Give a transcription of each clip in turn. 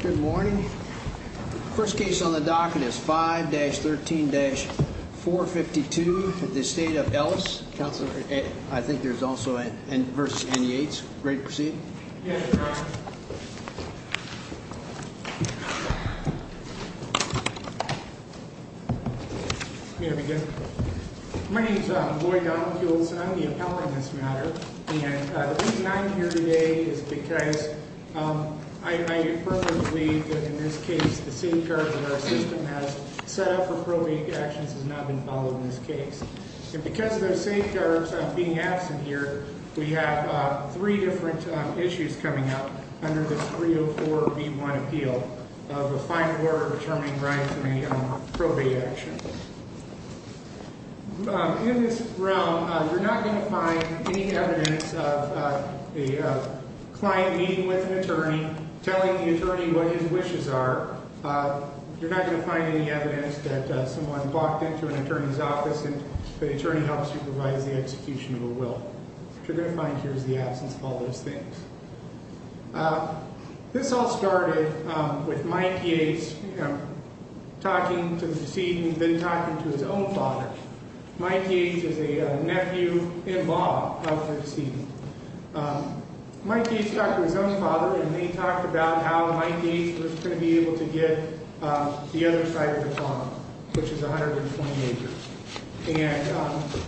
Good morning. First case on the docket is 5-13-452 at the Estate of Ellis. Counselor, I think there's also versus NEH. Ready to proceed? Yes, Your Honor. May it be good? My name is Lloyd Donald Hules and I'm the appellant in this matter. And the reason I'm here today is because I personally believe that in this case the safeguards that our system has set up for probate actions have not been followed in this case. And because of those safeguards being absent here, we have three different issues coming up under this 304B1 appeal of a final order determining rights in a probate action. In this realm, you're not going to find any evidence of a client meeting with an attorney, telling the attorney what his wishes are. You're not going to find any evidence that someone walked into an attorney's office and the attorney helped supervise the execution of a will. What you're going to find here is the absence of all those things. This all started with Mike Yates talking to the decedent and then talking to his own father. Mike Yates is a nephew-in-law of the decedent. Mike Yates talked to his own father and they talked about how Mike Yates was going to be able to get the other side of the farm, which is 120 acres. And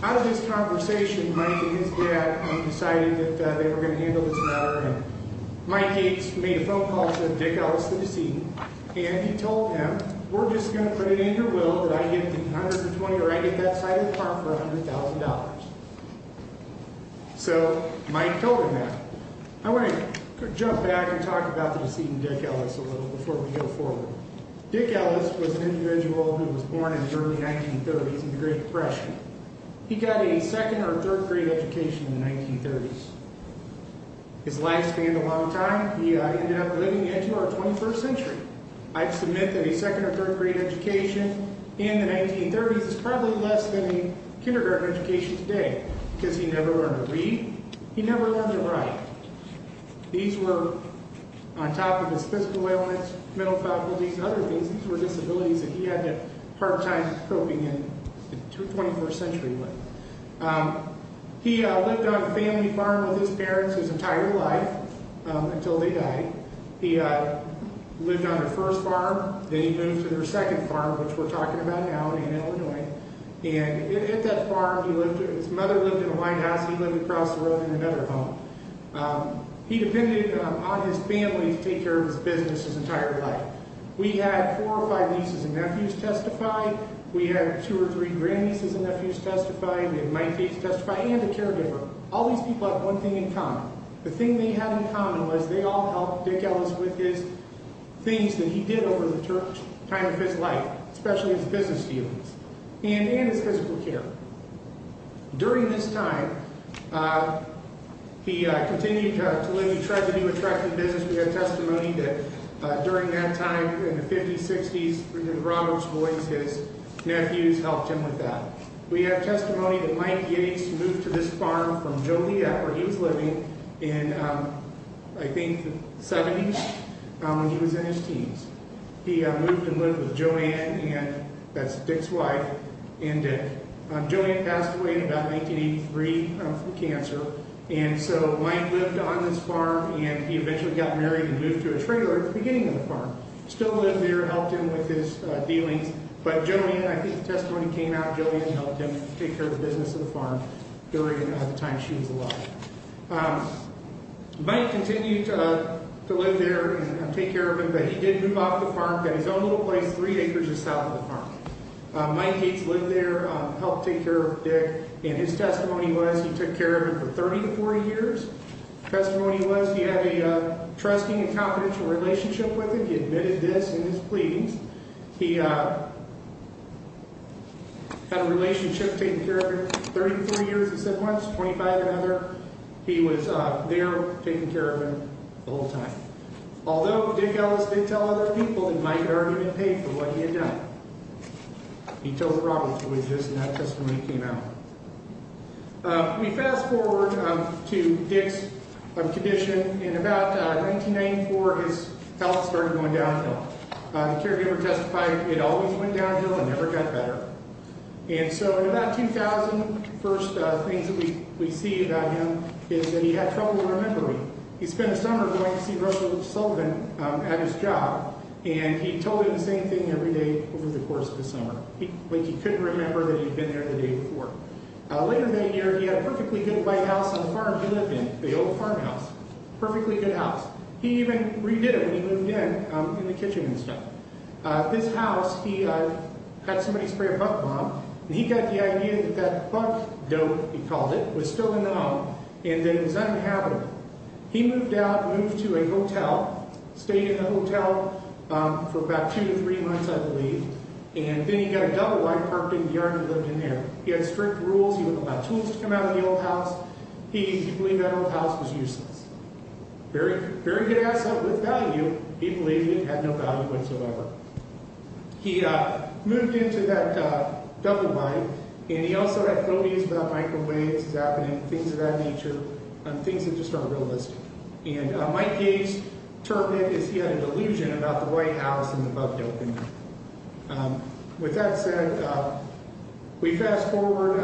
out of this conversation, Mike and his dad decided that they were going to handle this matter. Mike Yates made a phone call to Dick Ellis, the decedent, and he told him, We're just going to put it in your will that I get the 120 or I get that side of the farm for $100,000. So Mike told him that. I want to jump back and talk about the decedent, Dick Ellis, a little before we go forward. Dick Ellis was an individual who was born in the early 1930s in the Great Depression. He got a second or third grade education in the 1930s. His life spanned a long time. He ended up living into our 21st century. I submit that a second or third grade education in the 1930s is probably less than a kindergarten education today because he never learned to read. He never learned to write. These were on top of his physical ailments, mental faculties, and other things. These were disabilities that he had a hard time coping in the 21st century with. He lived on a family farm with his parents his entire life until they died. He lived on their first farm. Then he moved to their second farm, which we're talking about now in Illinois. And at that farm, his mother lived in a white house. He lived across the road in another home. He depended on his family to take care of his business his entire life. We had four or five nieces and nephews testify. We had two or three grandnieces and nephews testify. We had nine kids testify and a caregiver. All these people had one thing in common. The thing they had in common was they all helped Dick Ellis with his things that he did over the time of his life, especially his business dealings and his physical care. During this time, he continued to live. He tried to do attractive business. We have testimony that during that time in the 50s, 60s, Robert's boys, his nephews, helped him with that. We have testimony that Mike Yates moved to this farm from Joliet where he was living in, I think, the 70s when he was in his teens. He moved and lived with Joanne, and that's Dick's wife, and Dick. Joliet passed away in about 1983 from cancer. And so Mike lived on this farm, and he eventually got married and moved to a trailer at the beginning of the farm. Still lived there, helped him with his dealings. But Joliet, I think the testimony came out, Joliet helped him take care of the business of the farm during the time she was alive. Mike continued to live there and take care of it, but he did move off the farm, got his own little place three acres south of the farm. Mike Yates lived there, helped take care of Dick, and his testimony was he took care of him for 34 years. Testimony was he had a trusting and confidential relationship with him. He admitted this in his pleadings. He had a relationship, taking care of him, 33 years he said once, 25 another. He was there taking care of him the whole time. Although Dick Ellis did tell other people that Mike had already been paid for what he had done. He told the Robert's witnesses, and that testimony came out. Let me fast forward to Dick's condition. In about 1994, his health started going downhill. The caregiver testified it always went downhill and never got better. And so in about 2000, the first things that we see about him is that he had trouble remembering. He spent a summer going to see Russell Sullivan at his job, and he told him the same thing every day over the course of the summer. He couldn't remember that he'd been there the day before. Later that year, he had a perfectly good white house on the farm he lived in, the old farmhouse, perfectly good house. He even redid it when he moved in, in the kitchen and stuff. This house, he had somebody spray a bug bomb, and he got the idea that that bug dote, he called it, was still in the home, and that it was uninhabitable. He moved out, moved to a hotel, stayed in the hotel for about two to three months, I believe. And then he got a double-wide parked in the yard and lived in there. He had strict rules, he wouldn't allow tools to come out of the old house. He believed that old house was useless. Very good asset with value, he believed it had no value whatsoever. He moved into that double-wide, and he also had phobias about microwaves happening, things of that nature, things that just aren't realistic. And Mike Yates termed it as he had a delusion about the white house and the bug doping. With that said, we fast-forward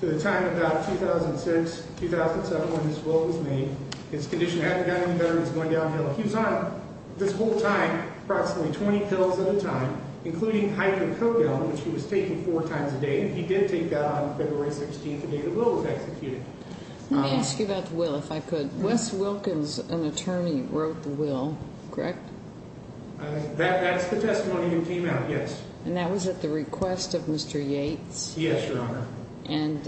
to the time about 2006, 2007, when this will was made. His condition hadn't gotten any better, he was going downhill. He was on, this whole time, approximately 20 pills at a time, including hydrocodone, which he was taking four times a day. He did take that on February 16th, the day the will was executed. Let me ask you about the will, if I could. Wes Wilkins, an attorney, wrote the will, correct? That's the testimony that came out, yes. And that was at the request of Mr. Yates? Yes, Your Honor. And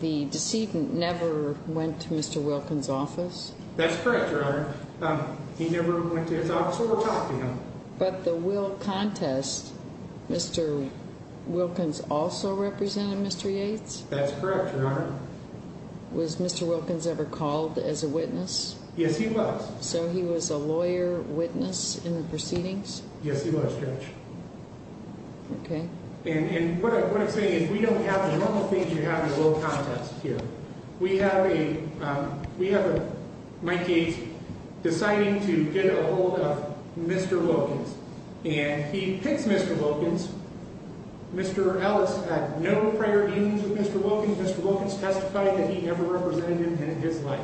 the decedent never went to Mr. Wilkins' office? That's correct, Your Honor. He never went to his office or talked to him. But the will contest, Mr. Wilkins also represented Mr. Yates? That's correct, Your Honor. Was Mr. Wilkins ever called as a witness? Yes, he was. So he was a lawyer witness in the proceedings? Yes, he was, Judge. Okay. And what I'm saying is we don't have the normal things you have in a will contest here. We have Mike Yates deciding to get a hold of Mr. Wilkins. And he picks Mr. Wilkins. Mr. Ellis had no prior dealings with Mr. Wilkins. Mr. Wilkins testified that he never represented him in his life.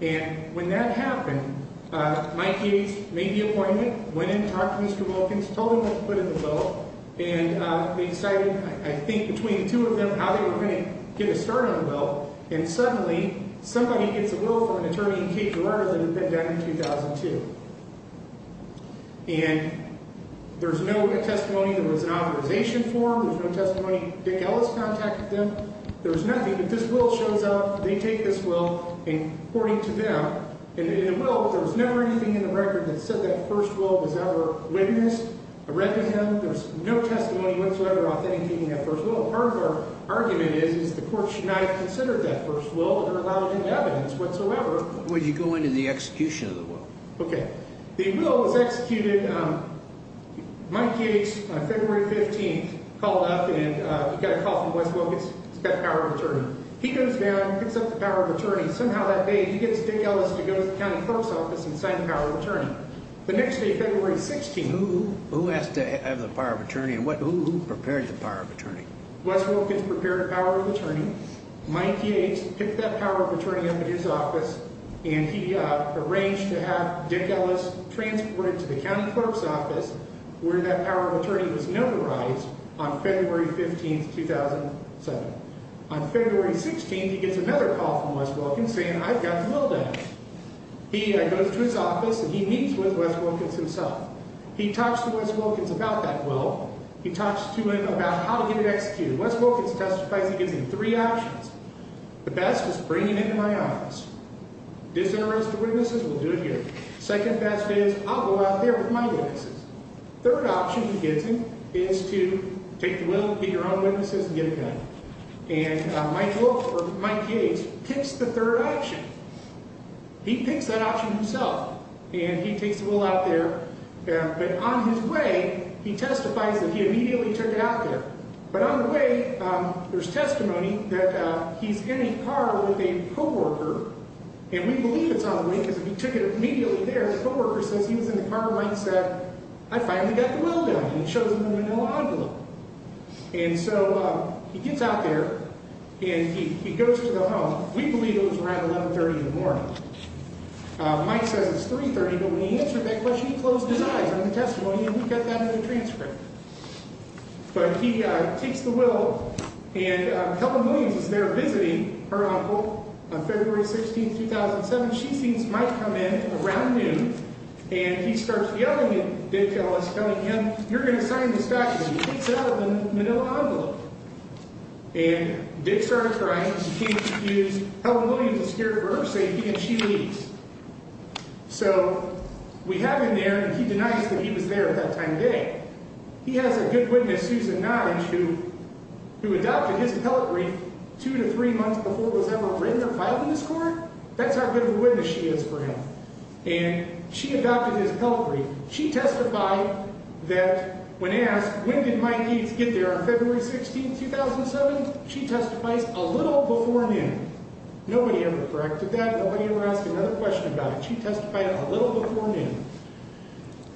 And when that happened, Mike Yates made the appointment, went in, talked to Mr. Wilkins, told him what to put in the bill, and they decided, I think between the two of them, how they were going to get us started on the bill. And suddenly, somebody gets a will from an attorney in Cape Verde that had been done in 2002. And there's no testimony. There was an authorization form. There's no testimony. Dick Ellis contacted them. There was nothing. But this will shows up. They take this will. And according to them, in the will, there was never anything in the record that said that first will was ever witnessed or read to him. There was no testimony whatsoever authenticating that first will. Part of our argument is, is the court should not have considered that first will or allowed any evidence whatsoever. Would you go into the execution of the will? Okay. The will was executed. Mike Yates, on February 15th, called up and he got a call from Wes Wilkins. He's got the power of attorney. He goes down and picks up the power of attorney. Somehow that day, he gets Dick Ellis to go to the county clerk's office and sign the power of attorney. The next day, February 16th. Who has to have the power of attorney and who prepares the power of attorney? Wes Wilkins prepared the power of attorney. Mike Yates picked that power of attorney up at his office, and he arranged to have Dick Ellis transported to the county clerk's office, where that power of attorney was notarized on February 15th, 2007. On February 16th, he gets another call from Wes Wilkins saying, I've got the will down. He goes to his office, and he meets with Wes Wilkins himself. He talks to Wes Wilkins about that will. He talks to him about how to get it executed. Wes Wilkins testifies. He gives him three options. The best is bring him into my office. Does he arrest the witnesses? We'll do it here. Second best is, I'll go out there with my witnesses. Third option he gives him is to take the will, get your own witnesses, and get it done. And Mike Wilkins, or Mike Yates, picks the third option. He picks that option himself, and he takes the will out there. But on his way, he testifies that he immediately took it out there. But on the way, there's testimony that he's in a car with a co-worker, and we believe it's on the way because if he took it immediately there, the co-worker says he was in the car, and Mike said, I finally got the will done. And he shows him the manila envelope. And so he gets out there, and he goes to the home. We believe it was around 1130 in the morning. Mike says it's 330, but when he answered that question, he closed his eyes on the testimony, and he kept that in the transcript. But he takes the will, and Helen Williams is there visiting her uncle on February 16, 2007. She thinks Mike come in around noon, and he starts yelling at Dick Ellis, telling him, you're going to sign this back, and he takes out the manila envelope. And Dick starts crying, and she can't excuse. Helen Williams is scared for her safety, and she leaves. So we have him there, and he denies that he was there at that time of day. He has a good witness, Susan Nige, who adopted his appellate brief two to three months before it was ever written or filed in this court. That's how good of a witness she is for him. And she adopted his appellate brief. She testified that when asked, when did Mike Eats get there on February 16, 2007, she testifies, a little before noon. Nobody ever corrected that. Nobody ever asked another question about it. She testified a little before noon.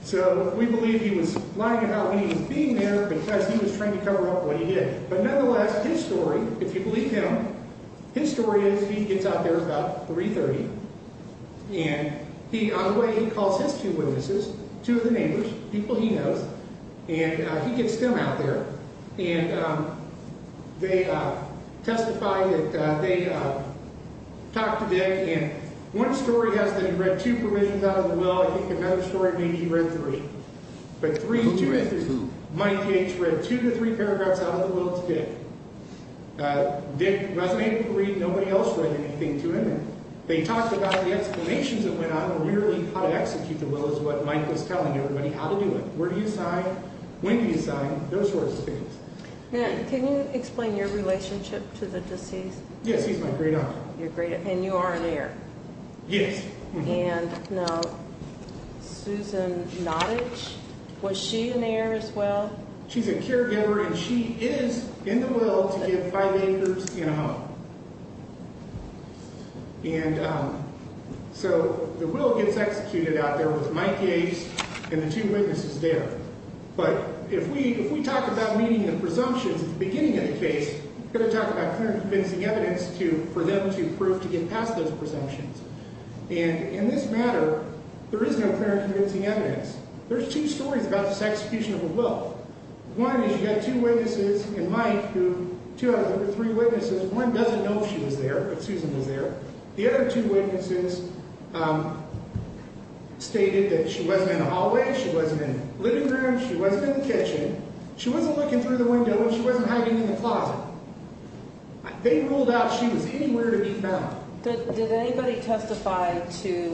So we believe he was lying about when he was being there because he was trying to cover up what he did. But nonetheless, his story, if you believe him, his story is he gets out there about 3.30, and on the way he calls his two witnesses, two of the neighbors, people he knows, and he gets them out there. And they testify that they talked to Dick, and one story has them read two provisions out of the will. I think another story maybe he read three. Mike Eats read two to three paragraphs out of the will to Dick. Dick resonated with greed. Nobody else read anything to him. They talked about the explanations that went on and really how to execute the will is what Mike was telling everybody how to do it. Where do you sign? When do you sign? Those sorts of things. Can you explain your relationship to the deceased? Yes, he's my great-uncle. And you are an heir. Yes. And now Susan Nottage, was she an heir as well? She's a caregiver, and she is in the will to give five acres and a half. And so the will gets executed out there with Mike Yates and the two witnesses there. But if we talk about meeting the presumptions at the beginning of the case, we've got to talk about clear and convincing evidence for them to prove to get past those presumptions. And in this matter, there is no clear and convincing evidence. There's two stories about this execution of a will. One is you've got two witnesses and Mike, two out of the three witnesses. One doesn't know if she was there, if Susan was there. The other two witnesses stated that she wasn't in the hallway, she wasn't in the living room, she wasn't in the kitchen. She wasn't looking through the window and she wasn't hiding in the closet. They ruled out she was anywhere to be found. Did anybody testify to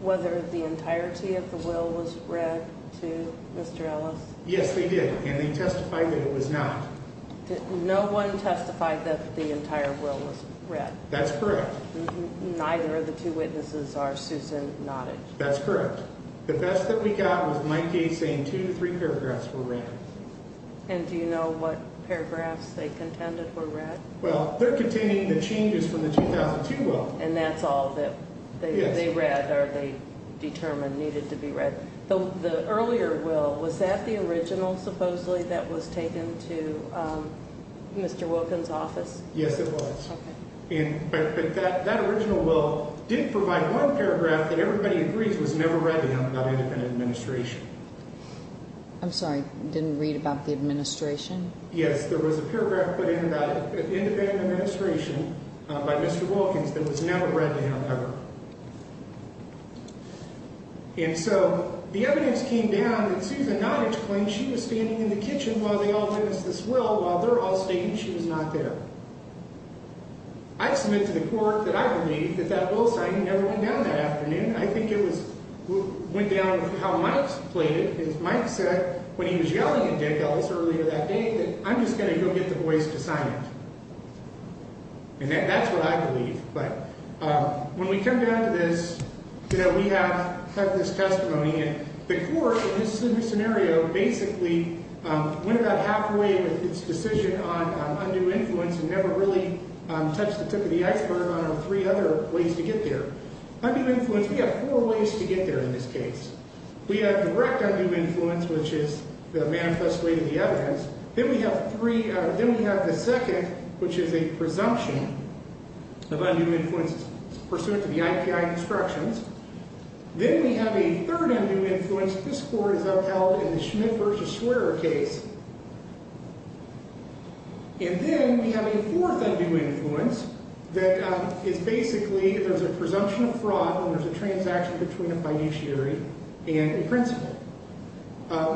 whether the entirety of the will was read to Mr. Ellis? Yes, they did, and they testified that it was not. No one testified that the entire will was read? That's correct. Neither of the two witnesses are Susan Nottage? That's correct. The best that we got was Mike Gates saying two to three paragraphs were read. And do you know what paragraphs they contended were read? Well, they're contending the changes from the 2002 will. And that's all that they read or they determined needed to be read. The earlier will, was that the original supposedly that was taken to Mr. Wilkin's office? Yes, it was. Okay. I'm sorry, didn't read about the administration? Yes, there was a paragraph put in about independent administration by Mr. Wilkins that was never read to him, ever. And so the evidence came down that Susan Nottage claimed she was standing in the kitchen while they all witnessed this will, while they're all stating she was not there. I submit to the court that I believe that that will signing never went down that afternoon. I think it went down how Mike played it. Mike said when he was yelling at Dick Ellis earlier that day that I'm just going to go get the boys to sign it. And that's what I believe. When we come down to this, you know, we have this testimony. And the court in this scenario basically went about halfway with its decision on undue influence and never really touched the tip of the iceberg on three other ways to get there. Undue influence, we have four ways to get there in this case. We have direct undue influence, which is the manifest way to the evidence. Then we have the second, which is a presumption of undue influence pursuant to the IPI constructions. Then we have a third undue influence. This court is upheld in the Schmidt v. Swearer case. And then we have a fourth undue influence that is basically there's a presumption of fraud when there's a transaction between a fiduciary and a principal.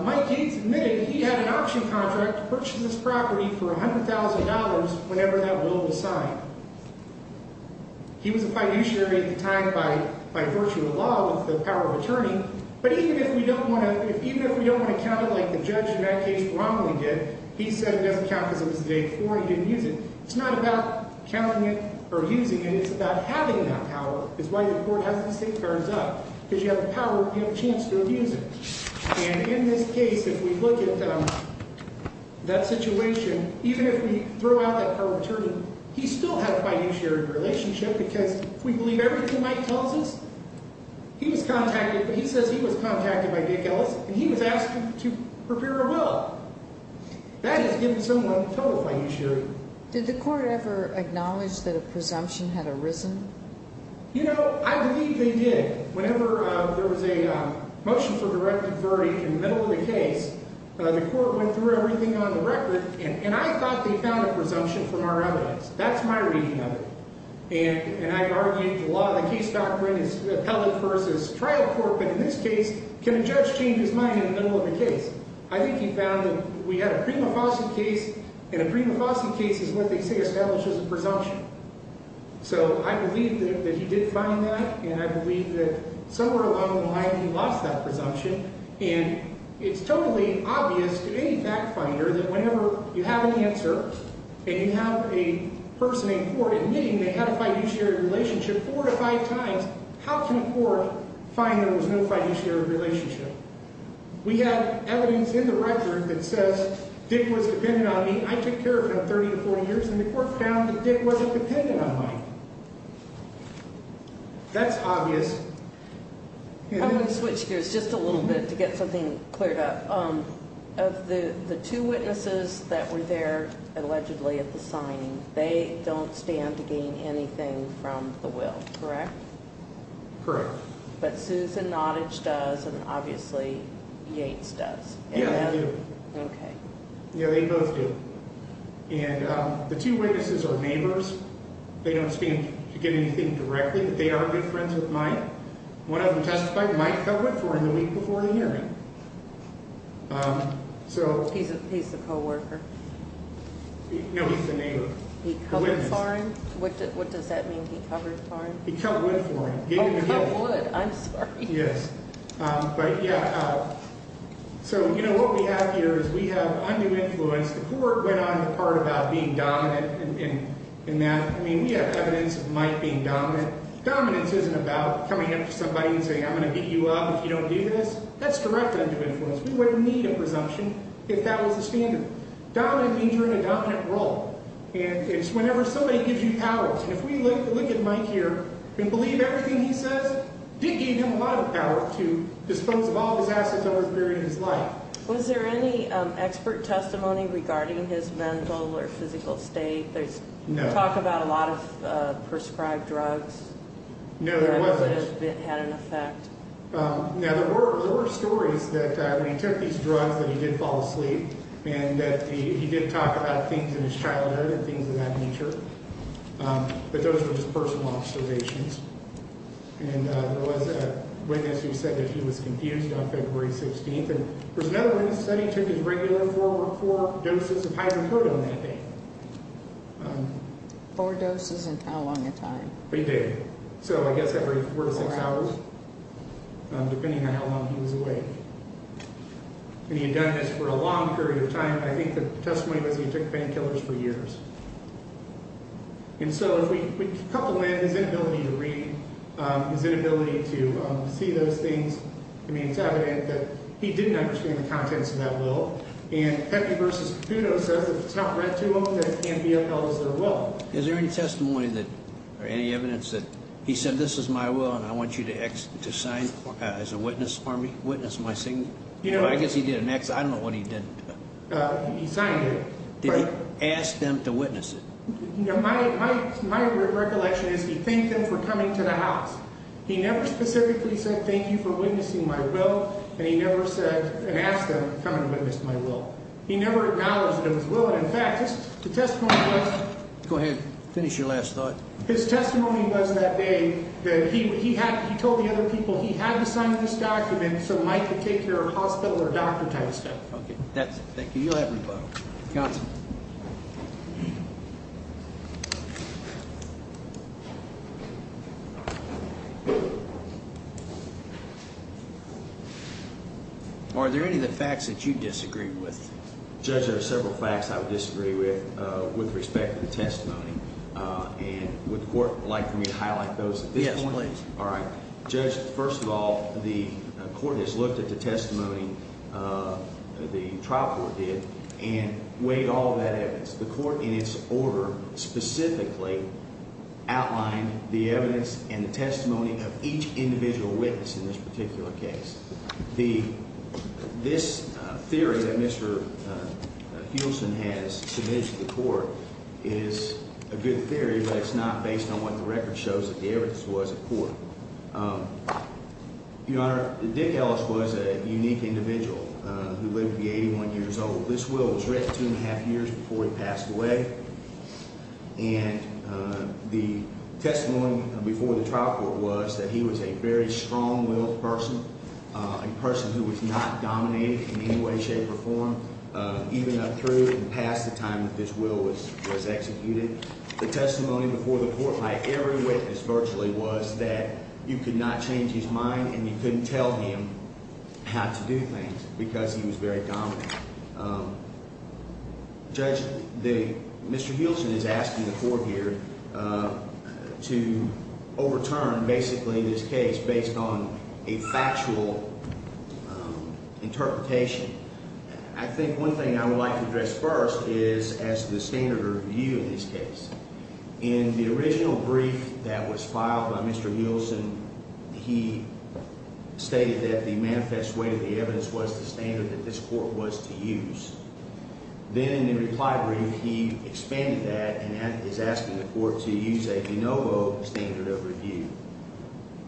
Mike Gates admitted he had an auction contract to purchase this property for $100,000 whenever that will was signed. He was a fiduciary at the time by virtue of law with the power of attorney. But even if we don't want to count it like the judge in that case wrongly did, he said it doesn't count because it was the day before and he didn't use it. It's not about counting it or using it. It's about having that power. It's why the court has the safeguards up, because you have the power and you have a chance to abuse it. And in this case, if we look at that situation, even if we throw out that power of attorney, he still had a fiduciary relationship because we believe everything Mike tells us. He was contacted, but he says he was contacted by Dick Ellis, and he was asked to prepare a will. That is giving someone total fiduciary. Did the court ever acknowledge that a presumption had arisen? You know, I believe they did. Whenever there was a motion for direct authority in the middle of the case, the court went through everything on the record, and I thought they found a presumption from our evidence. That's my reading of it. And I argued the law of the case doctrine is appellate versus trial court. But in this case, can a judge change his mind in the middle of the case? I think he found that we had a prima facie case, and a prima facie case is what they say establishes a presumption. So I believe that he did find that, and I believe that somewhere along the line he lost that presumption. And it's totally obvious to any fact finder that whenever you have an answer and you have a person in court admitting they had a fiduciary relationship four to five times, how can a court find there was no fiduciary relationship? We have evidence in the record that says Dick was dependent on me. I took care of him 30 to 40 years, and the court found that Dick wasn't dependent on me. That's obvious. I'm going to switch gears just a little bit to get something cleared up. Of the two witnesses that were there allegedly at the signing, they don't stand to gain anything from the will, correct? Correct. But Susan Nottage does, and obviously Yates does. Yeah, they do. Okay. Yeah, they both do. And the two witnesses are neighbors. They don't stand to gain anything directly, but they are good friends with Mike. One of them testified, Mike cut wood for him the week before the hearing. He's the coworker? No, he's the neighbor. He cut wood for him? What does that mean, he cut wood for him? He cut wood for him. He cut wood. I'm sorry. Yes. But, yeah, so, you know, what we have here is we have undue influence. The court went on the part about being dominant in that. I mean, we have evidence of Mike being dominant. Dominance isn't about coming up to somebody and saying, I'm going to beat you up if you don't do this. That's direct undue influence. We wouldn't need a presumption if that was the standard. Dominant means you're in a dominant role, and it's whenever somebody gives you powers. And if we look at Mike here and believe everything he says, it did give him a lot of power to dispose of all of his assets over the period of his life. Was there any expert testimony regarding his mental or physical state? No. Talk about a lot of prescribed drugs? No, there wasn't. Had an effect? Now, there were stories that when he took these drugs that he did fall asleep, and that he did talk about things in his childhood and things of that nature. But those were just personal observations. And there was a witness who said that he was confused on February 16th. And there was another witness that said he took his regular four doses of hydrocodone that day. Four doses and how long a time? A day. So I guess every four to six hours, depending on how long he was awake. And he had done this for a long period of time. I think the testimony was he took painkillers for years. And so if we couple in his inability to read, his inability to see those things, I mean, it's evident that he didn't understand the contents of that will. And Pepe versus Caputo says if it's not read to him, then it can't be upheld as their will. Is there any testimony or any evidence that he said, Well, this is my will, and I want you to sign as a witness for me. Witness my signature. I guess he did an X. I don't know what he did. He signed it. Did he ask them to witness it? My recollection is he thanked them for coming to the house. He never specifically said thank you for witnessing my will, and he never said and asked them to come and witness my will. He never acknowledged that it was his will. And, in fact, the testimony was. Go ahead. Finish your last thought. His testimony was that day that he told the other people he had to sign this document so Mike could take care of hospital or doctor type stuff. Okay. That's it. Thank you. You'll have rebuttal. Counsel. Are there any of the facts that you disagree with? Judge, there are several facts I would disagree with with respect to the testimony. And would the court like for me to highlight those at this point? Yes, please. All right. Judge, first of all, the court has looked at the testimony the trial court did and weighed all that evidence. The court in its order specifically outlined the evidence and the testimony of each individual witness in this particular case. This theory that Mr. Hewson has submitted to the court is a good theory, but it's not based on what the record shows that the evidence was at court. Your Honor, Dick Ellis was a unique individual who lived to be 81 years old. This will was written two and a half years before he passed away. And the testimony before the trial court was that he was a very strong-willed person, a person who was not dominated in any way, shape, or form, even up through and past the time that this will was executed. The testimony before the court by every witness virtually was that you could not change his mind and you couldn't tell him how to do things because he was very dominant. Judge, Mr. Hewson is asking the court here to overturn basically this case based on a factual interpretation. I think one thing I would like to address first is as to the standard of review in this case. In the original brief that was filed by Mr. Hewson, he stated that the manifest way of the evidence was the standard that this court was to use. Then in the reply brief, he expanded that and is asking the court to use a de novo standard of review.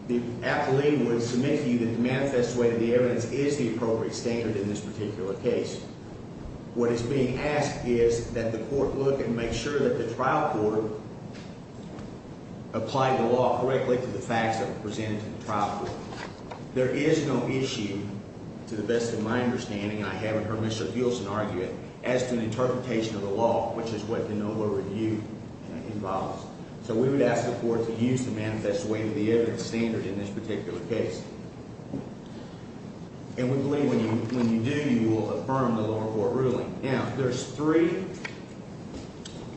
The appellee would submit to you that the manifest way of the evidence is the appropriate standard in this particular case. What is being asked is that the court look and make sure that the trial court applied the law correctly to the facts that were presented to the trial court. There is no issue, to the best of my understanding, I haven't heard Mr. Hewson argue it, as to an interpretation of the law, which is what de novo review involves. We would ask the court to use the manifest way of the evidence standard in this particular case. We believe when you do, you will affirm the lower court ruling. Now, there's three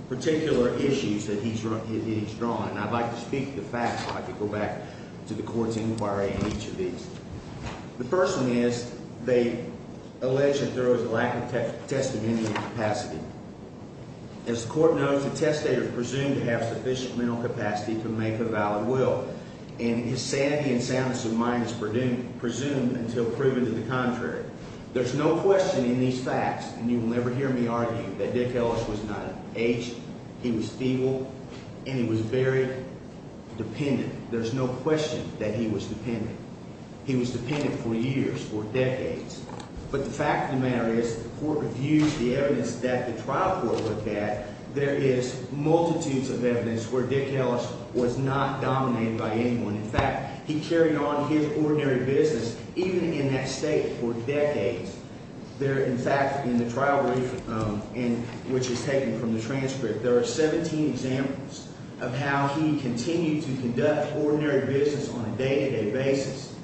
particular issues that he's drawn. And I'd like to speak to the facts. I'd like to go back to the court's inquiry in each of these. The first one is they allege that there was a lack of testimony capacity. As the court knows, the testator is presumed to have sufficient mental capacity to make a valid will. And his sanity and soundness of mind is presumed until proven to the contrary. There's no question in these facts, and you will never hear me argue, that Dick Ellis was not aged, he was feeble, and he was very dependent. There's no question that he was dependent. He was dependent for years, for decades. But the fact of the matter is the court reviews the evidence that the trial court looked at, there is multitudes of evidence where Dick Ellis was not dominated by anyone. In fact, he carried on his ordinary business, even in that state, for decades. In fact, in the trial brief, which is taken from the transcript, there are 17 examples of how he continued to conduct ordinary business on a day-to-day basis.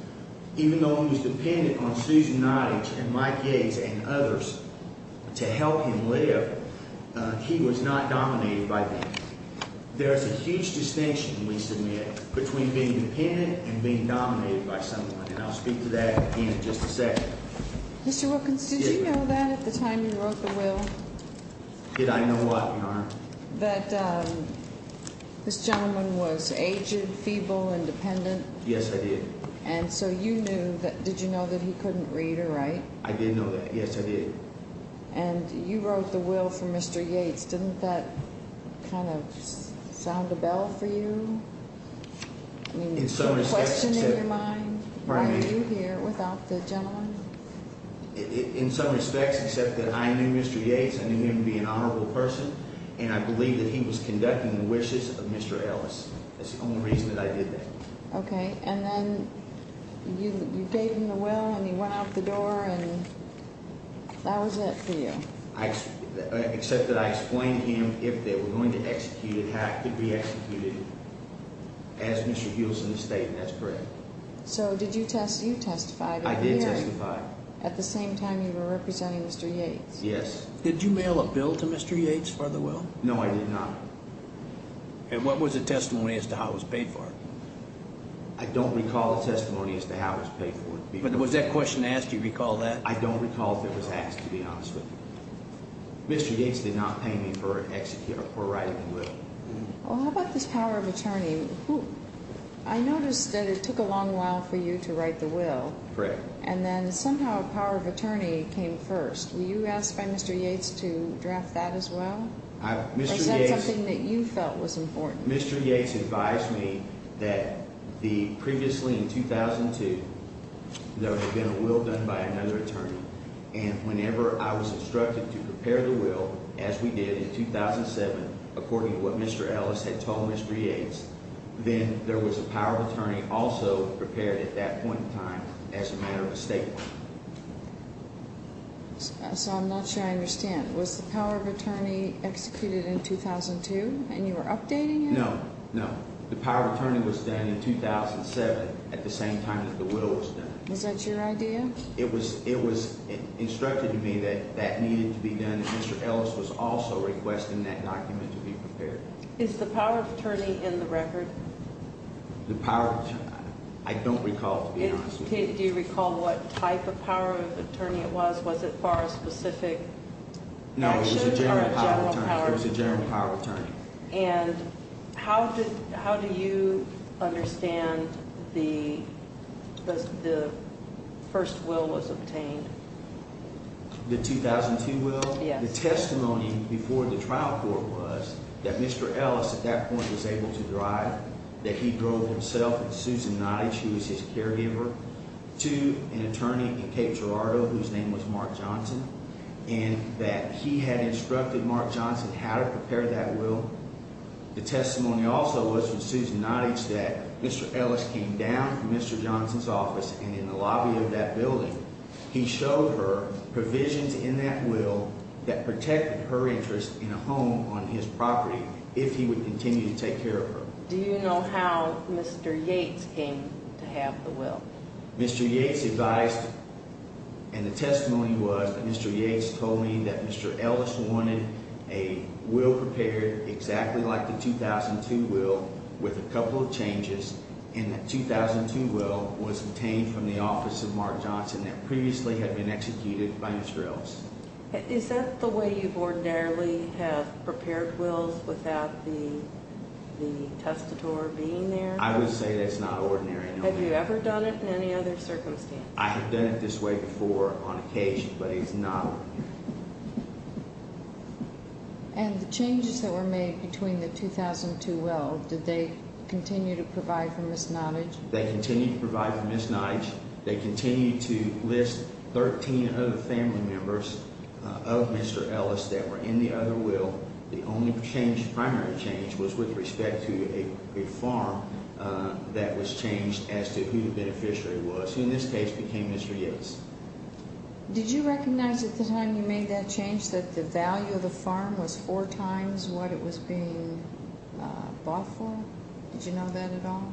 Even though he was dependent on Susan Nottage and Mike Yates and others to help him live, he was not dominated by them. There's a huge distinction, we submit, between being dependent and being dominated by someone. And I'll speak to that in just a second. Mr. Wilkins, did you know that at the time you wrote the will? Did I know what, Your Honor? That this gentleman was aged, feeble, independent. Yes, I did. And so you knew, did you know that he couldn't read or write? I did know that, yes, I did. And you wrote the will for Mr. Yates. Didn't that kind of sound a bell for you? Did you have a question in your mind? Why are you here without the gentleman? In some respects, except that I knew Mr. Yates, I knew him to be an honorable person, and I believed that he was conducting the wishes of Mr. Ellis. That's the only reason that I did that. Okay, and then you gave him the will, and he went out the door, and that was it for you? Except that I explained to him if they were going to execute it, how it could be executed as Mr. Hewson had stated, and that's correct. So did you testify to him? I did testify. At the same time you were representing Mr. Yates? Yes. Did you mail a bill to Mr. Yates for the will? No, I did not. And what was the testimony as to how it was paid for? I don't recall a testimony as to how it was paid for. But was that question asked, do you recall that? I don't recall if it was asked, to be honest with you. Mr. Yates did not pay me for writing the will. Well, how about this power of attorney? I noticed that it took a long while for you to write the will. Correct. And then somehow power of attorney came first. Were you asked by Mr. Yates to draft that as well? Or was that something that you felt was important? Mr. Yates advised me that previously in 2002, there had been a will done by another attorney. And whenever I was instructed to prepare the will, as we did in 2007, according to what Mr. Ellis had told Mr. Yates, then there was a power of attorney also prepared at that point in time as a matter of a statement. So I'm not sure I understand. Was the power of attorney executed in 2002 and you were updating it? No. No. The power of attorney was done in 2007 at the same time that the will was done. Was that your idea? It was instructed to me that that needed to be done, and Mr. Ellis was also requesting that document to be prepared. Is the power of attorney in the record? The power of attorney? I don't recall, to be honest with you. Do you recall what type of power of attorney it was? Was it for a specific action? No, it was a general power of attorney. It was a general power of attorney. And how do you understand the first will was obtained? The 2002 will? Yes. The testimony before the trial court was that Mr. Ellis, at that point, was able to drive, that he drove himself and Susan Nottage, who was his caregiver, to an attorney in Cape Girardeau whose name was Mark Johnson, and that he had instructed Mark Johnson how to prepare that will. The testimony also was from Susan Nottage that Mr. Ellis came down from Mr. Johnson's office and in the lobby of that building, he showed her provisions in that will that protected her interest in a home on his property if he would continue to take care of her. Do you know how Mr. Yates came to have the will? Mr. Yates advised, and the testimony was that Mr. Yates told me that Mr. Ellis wanted a will prepared exactly like the 2002 will with a couple of changes, and that 2002 will was obtained from the office of Mark Johnson that previously had been executed by Mr. Ellis. Is that the way you ordinarily have prepared wills without the testator being there? I would say that's not ordinary. Have you ever done it in any other circumstance? I have done it this way before on occasion, but it's not ordinary. And the changes that were made between the 2002 will, did they continue to provide for Ms. Nottage? They continued to provide for Ms. Nottage. They continued to list 13 other family members of Mr. Ellis that were in the other will. The only primary change was with respect to a farm that was changed as to who the beneficiary was, who in this case became Mr. Yates. Did you recognize at the time you made that change that the value of the farm was four times what it was being bought for? Did you know that at all?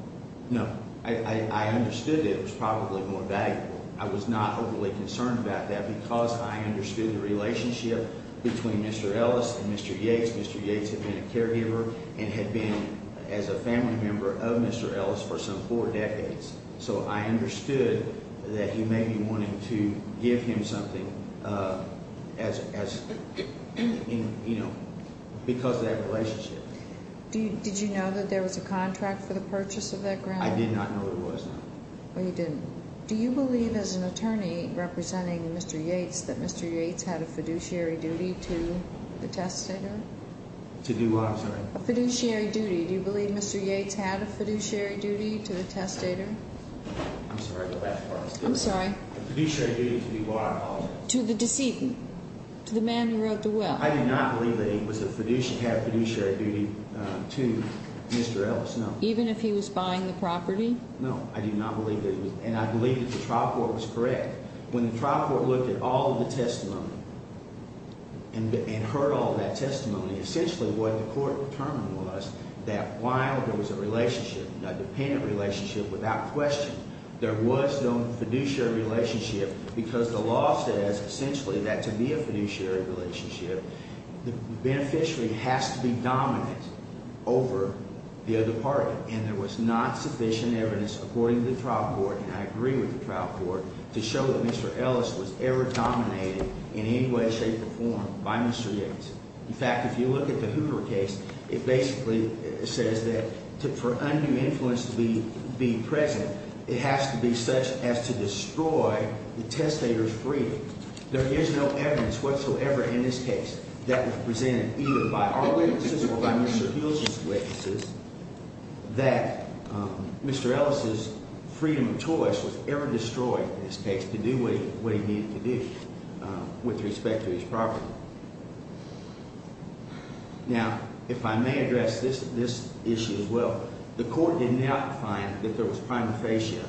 No. I understood that it was probably more valuable. I was not overly concerned about that because I understood the relationship between Mr. Ellis and Mr. Yates. Mr. Yates had been a caregiver and had been as a family member of Mr. Ellis for some four decades, so I understood that he may be wanting to give him something because of that relationship. Did you know that there was a contract for the purchase of that ground? I did not know there was none. Oh, you didn't. Do you believe as an attorney representing Mr. Yates that Mr. Yates had a fiduciary duty to the testator? To do what, I'm sorry? A fiduciary duty. Do you believe Mr. Yates had a fiduciary duty to the testator? I'm sorry. A fiduciary duty to do what, I apologize? To the decedent, to the man who wrote the will. I do not believe that he had a fiduciary duty to Mr. Ellis, no. Even if he was buying the property? No, I do not believe that he was. And I believe that the trial court was correct. When the trial court looked at all of the testimony and heard all of that testimony, essentially what the court determined was that while there was a relationship, a dependent relationship without question, there was no fiduciary relationship because the law says essentially that to be a fiduciary relationship, the beneficiary has to be dominant over the other party. And there was not sufficient evidence according to the trial court, and I agree with the trial court, to show that Mr. Ellis was ever dominated in any way, shape, or form by Mr. Yates. In fact, if you look at the Hoover case, it basically says that for undue influence to be present, it has to be such as to destroy the testator's freedom. There is no evidence whatsoever in this case that was presented either by our witnesses or by Mr. Hill's witnesses that Mr. Ellis's freedom of choice was ever destroyed in this case to do what he needed to do with respect to his property. Now, if I may address this issue as well, the court did not find that there was prima facie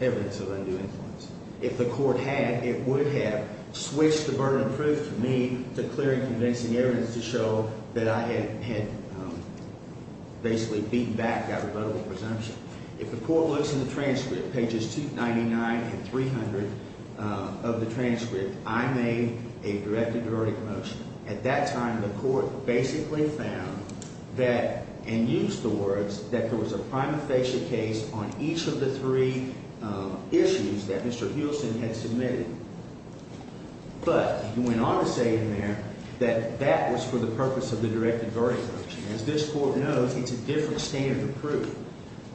evidence of undue influence. If the court had, it would have switched the burden of proof to me to clear and convincing evidence to show that I had basically beaten back that rebuttable presumption. If the court looks in the transcript, pages 299 and 300 of the transcript, I made a direct and derogatory motion. At that time, the court basically found that, and used the words, that there was a prima facie case on each of the three issues that Mr. Huelsen had submitted. But he went on to say in there that that was for the purpose of the direct and derogatory motion. As this court knows, it's a different standard of proof.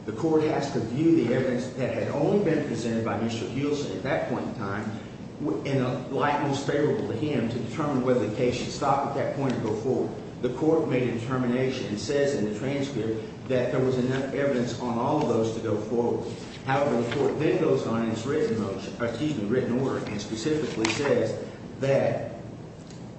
The court has to view the evidence that had only been presented by Mr. Huelsen at that point in time in a light most favorable to him to determine whether the case should stop at that point and go forward. The court made a determination and says in the transcript that there was enough evidence on all of those to go forward. However, the court then goes on in its written order and specifically says that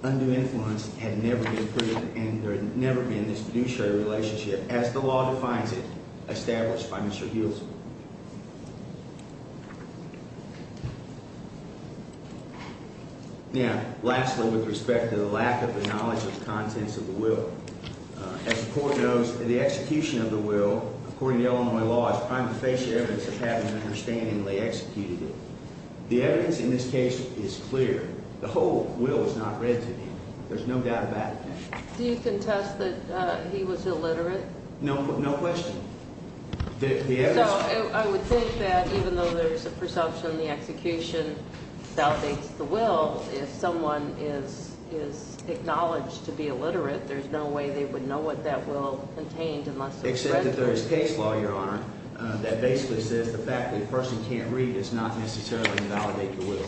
undue influence had never been proven and there had never been this fiduciary relationship. As the law defines it, established by Mr. Huelsen. Now, lastly, with respect to the lack of the knowledge of the contents of the will. As the court knows, the execution of the will, according to Illinois law, is prima facie evidence of having understandingly executed it. The evidence in this case is clear. The whole will is not read to me. There's no doubt about it. Do you contest that he was illiterate? No, no question. I would think that even though there's a perception the execution validates the will, if someone is acknowledged to be illiterate, there's no way they would know what that will contained. Except that there is case law, Your Honor, that basically says the fact that a person can't read does not necessarily validate the will.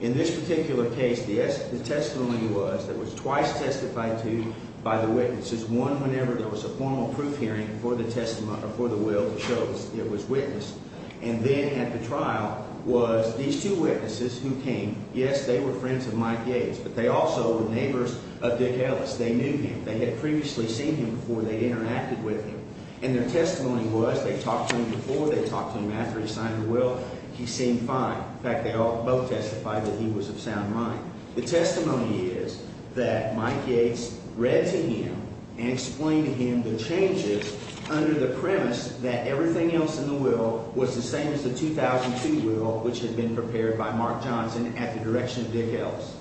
In this particular case, the testimony was that was twice testified to by the witnesses, one whenever there was a formal proof hearing for the will to show it was witnessed. And then at the trial was these two witnesses who came. Yes, they were friends of Mike Yates, but they also were neighbors of Dick Ellis. They knew him. They had previously seen him before they interacted with him. And their testimony was they talked to him before, they talked to him after he signed the will. He seemed fine. In fact, they both testified that he was of sound mind. The testimony is that Mike Yates read to him and explained to him the changes under the premise that everything else in the will was the same as the 2002 will, which had been prepared by Mark Johnson at the direction of Dick Ellis.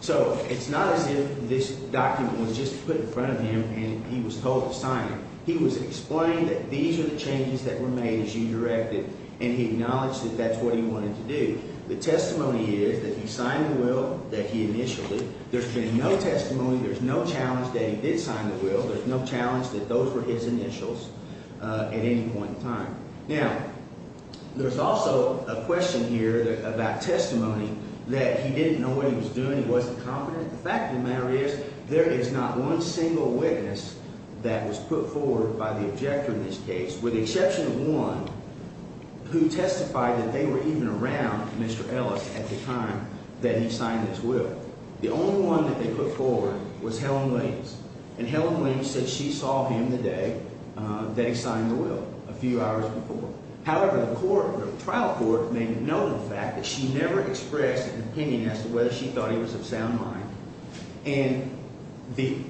So it's not as if this document was just put in front of him and he was told to sign it. He was explained that these are the changes that were made as you directed, and he acknowledged that that's what he wanted to do. The testimony is that he signed the will that he initially. There's been no testimony. There's no challenge that he did sign the will. There's no challenge that those were his initials at any point in time. Now, there's also a question here about testimony that he didn't know what he was doing. He wasn't confident. The fact of the matter is there is not one single witness that was put forward by the objector in this case, with the exception of one who testified that they were even around Mr. Ellis at the time that he signed this will. The only one that they put forward was Helen Williams, and Helen Williams said she saw him the day that he signed the will, a few hours before. However, the trial court made note of the fact that she never expressed an opinion as to whether she thought he was of sound mind. And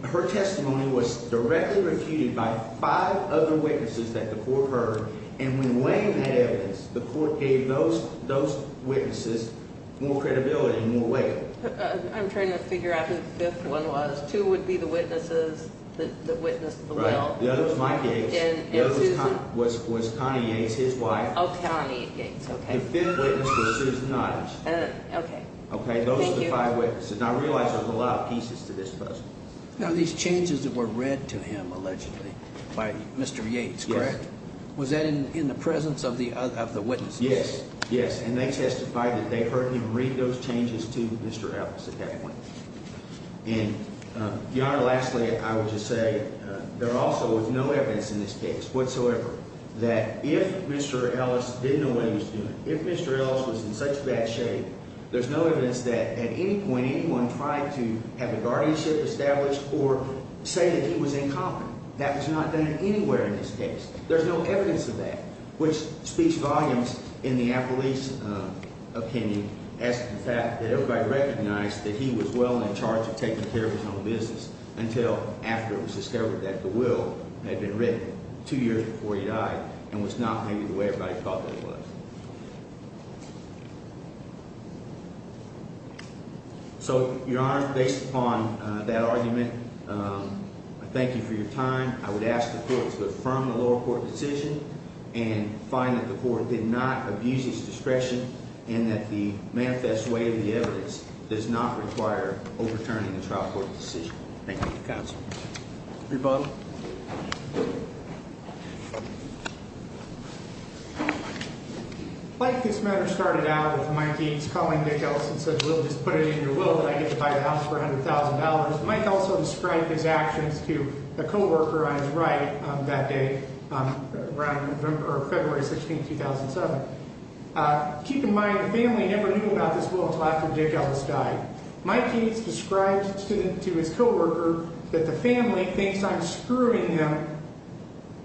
her testimony was directly refuted by five other witnesses that the court heard, and when Wayne had evidence, the court gave those witnesses more credibility and more weight. I'm trying to figure out who the fifth one was. Two would be the witnesses that witnessed the will. Right. The other was Mike Yates. Was Connie Yates his wife? Connie Yates. The fifth witness was Susan Nottage. Okay. Okay. Those are the five witnesses. And I realize there's a lot of pieces to this puzzle. Now, these changes that were read to him, allegedly, by Mr. Yates, correct? Yes. Was that in the presence of the witnesses? Yes. Yes. And they testified that they heard him read those changes to Mr. Ellis at that point. And, Your Honor, lastly, I would just say there also was no evidence in this case whatsoever that if Mr. Ellis didn't know what he was doing, if Mr. Ellis was in such bad shape, there's no evidence that at any point anyone tried to have a guardianship established or say that he was incompetent. That was not done anywhere in this case. There's no evidence of that, which speaks volumes in the appellee's opinion as to the fact that everybody recognized that he was well in charge of taking care of his own business until after it was discovered that the will had been written two years before he died and was not maybe the way everybody thought it was. So, Your Honor, based upon that argument, I thank you for your time. I would ask the court to affirm the lower court decision and find that the court did not abuse its discretion and that the manifest way of the evidence does not require overturning the trial court decision. Thank you, counsel. Rebuttal. Like this matter started out with Mike Yates calling Dick Ellis and said, well, just put it in your will that I get to buy the house for $100,000. Mike also described his actions to a coworker on his right that day, February 16, 2007. Keep in mind, the family never knew about this will until after Dick Ellis died. Mike Yates described to his coworker that the family thinks I'm screwing them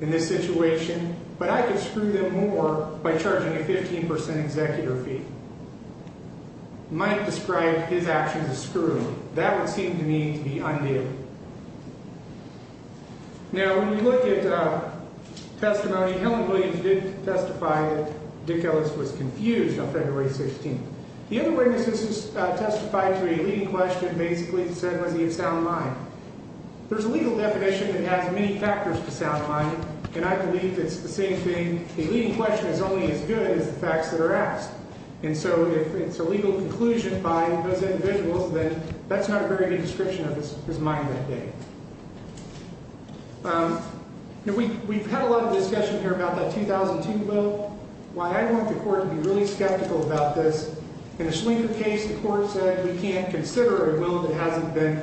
in this situation, but I could screw them more by charging a 15% executive fee. Mike described his actions as screwing them. That would seem to me to be undue. Now, when you look at testimony, Helen Williams did testify that Dick Ellis was confused on February 16. The other witnesses who testified to a leading question basically said was he of sound mind. There's a legal definition that has many factors to sound mind, and I believe it's the same thing. A leading question is only as good as the facts that are asked. And so if it's a legal conclusion by those individuals, then that's not a very good description of his mind that day. Now, we've had a lot of discussion here about that 2002 will. Why I want the court to be really skeptical about this, in a Schlinger case, the court said we can't consider a will that hasn't been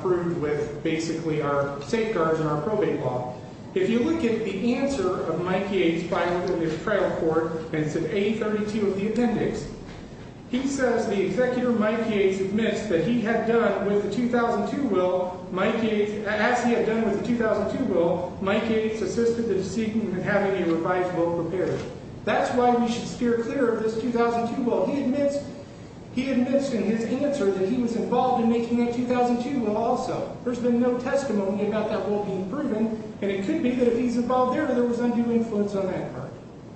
proved with basically our safeguards and our probate law. If you look at the answer of Mike Yates filed in the trial court, and it's in A32 of the appendix, he says the executor, Mike Yates, admits that he had done with the 2002 will, Mike Yates, as he had done with the 2002 will, Mike Yates assisted the deceitful in having a revised will prepared. That's why we should steer clear of this 2002 will. He admits in his answer that he was involved in making that 2002 will also. There's been no testimony about that will being proven, and it could be that if he's involved there, there was undue influence on that part.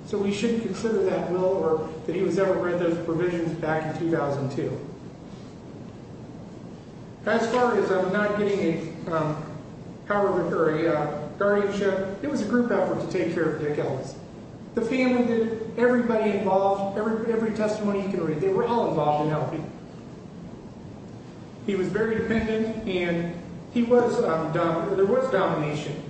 So we shouldn't consider that will or that he was ever read those provisions back in 2002. As far as I'm not getting a guardianship, it was a group effort to take care of Dick Ellis. The family did it. Everybody involved, every testimony he could read, they were all involved in helping. He was very dependent, and there was domination.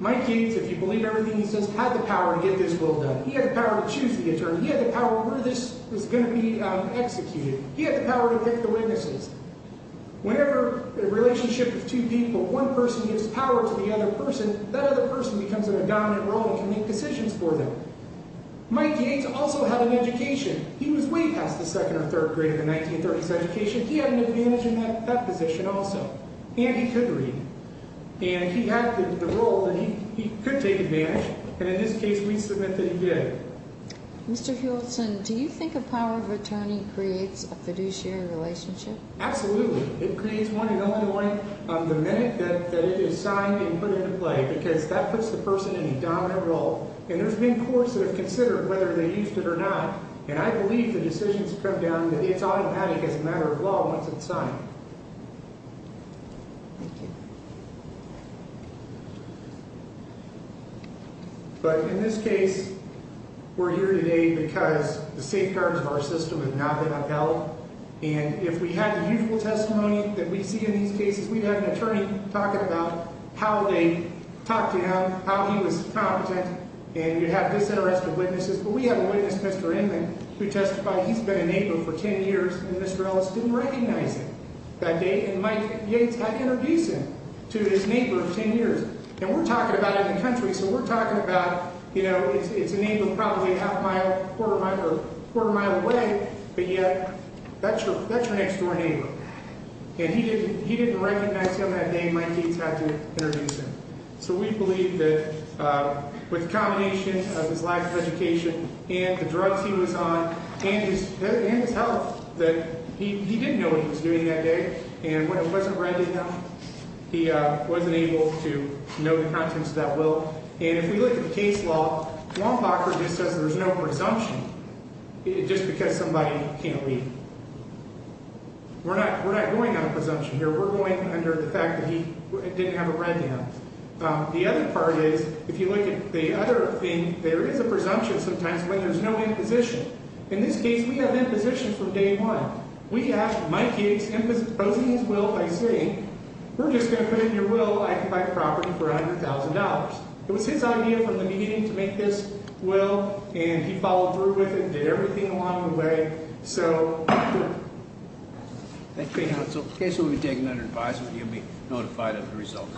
Mike Yates, if you believe everything he says, had the power to get this will done. He had the power to choose the attorney. He had the power where this was going to be executed. He had the power to pick the witnesses. Whenever a relationship with two people, one person gives power to the other person, that other person becomes in a dominant role and can make decisions for them. Mike Yates also had an education. He was way past the second or third grade of the 1930s education. He had an advantage in that position also, and he could read. And he had the role that he could take advantage, and in this case, we submit that he did. Mr. Hewlton, do you think a power of attorney creates a fiduciary relationship? Absolutely. It creates one and only one the minute that it is signed and put into play because that puts the person in a dominant role. And there's been courts that have considered whether they used it or not, and I believe the decisions come down that it's automatic as a matter of law once it's signed. Thank you. But in this case, we're here today because the safeguards of our system have not been upheld, and if we had the usual testimony that we see in these cases, we'd have an attorney talking about how they talked to him, how he was competent, and you'd have disinterested witnesses. But we have a witness, Mr. Inman, who testified he's been a neighbor for 10 years, and Mr. Ellis didn't recognize him that day, and Mike Yates had to introduce him to his neighbor of 10 years. And we're talking about in the country, so we're talking about, you know, it's a neighbor probably a quarter mile away, but yet that's your next-door neighbor. And he didn't recognize him that day, and Mike Yates had to introduce him. So we believe that with the combination of his lack of education and the drugs he was on and his health, that he didn't know what he was doing that day, and when it wasn't read to him, he wasn't able to know the contents of that will. And if we look at the case law, Wompacher just says there's no presumption just because somebody can't leave. We're not going on a presumption here. We're going under the fact that he didn't have it read to him. The other part is if you look at the other thing, there is a presumption sometimes when there's no imposition. In this case, we have imposition from day one. We have Mike Yates imposing his will by saying, we're just going to put it in your will. I can buy the property for $100,000. It was his idea from the beginning to make this will, and he followed through with it and did everything along the way. So, thank you. Thank you, counsel. In case you'll be taking that advice, you'll be notified of the results.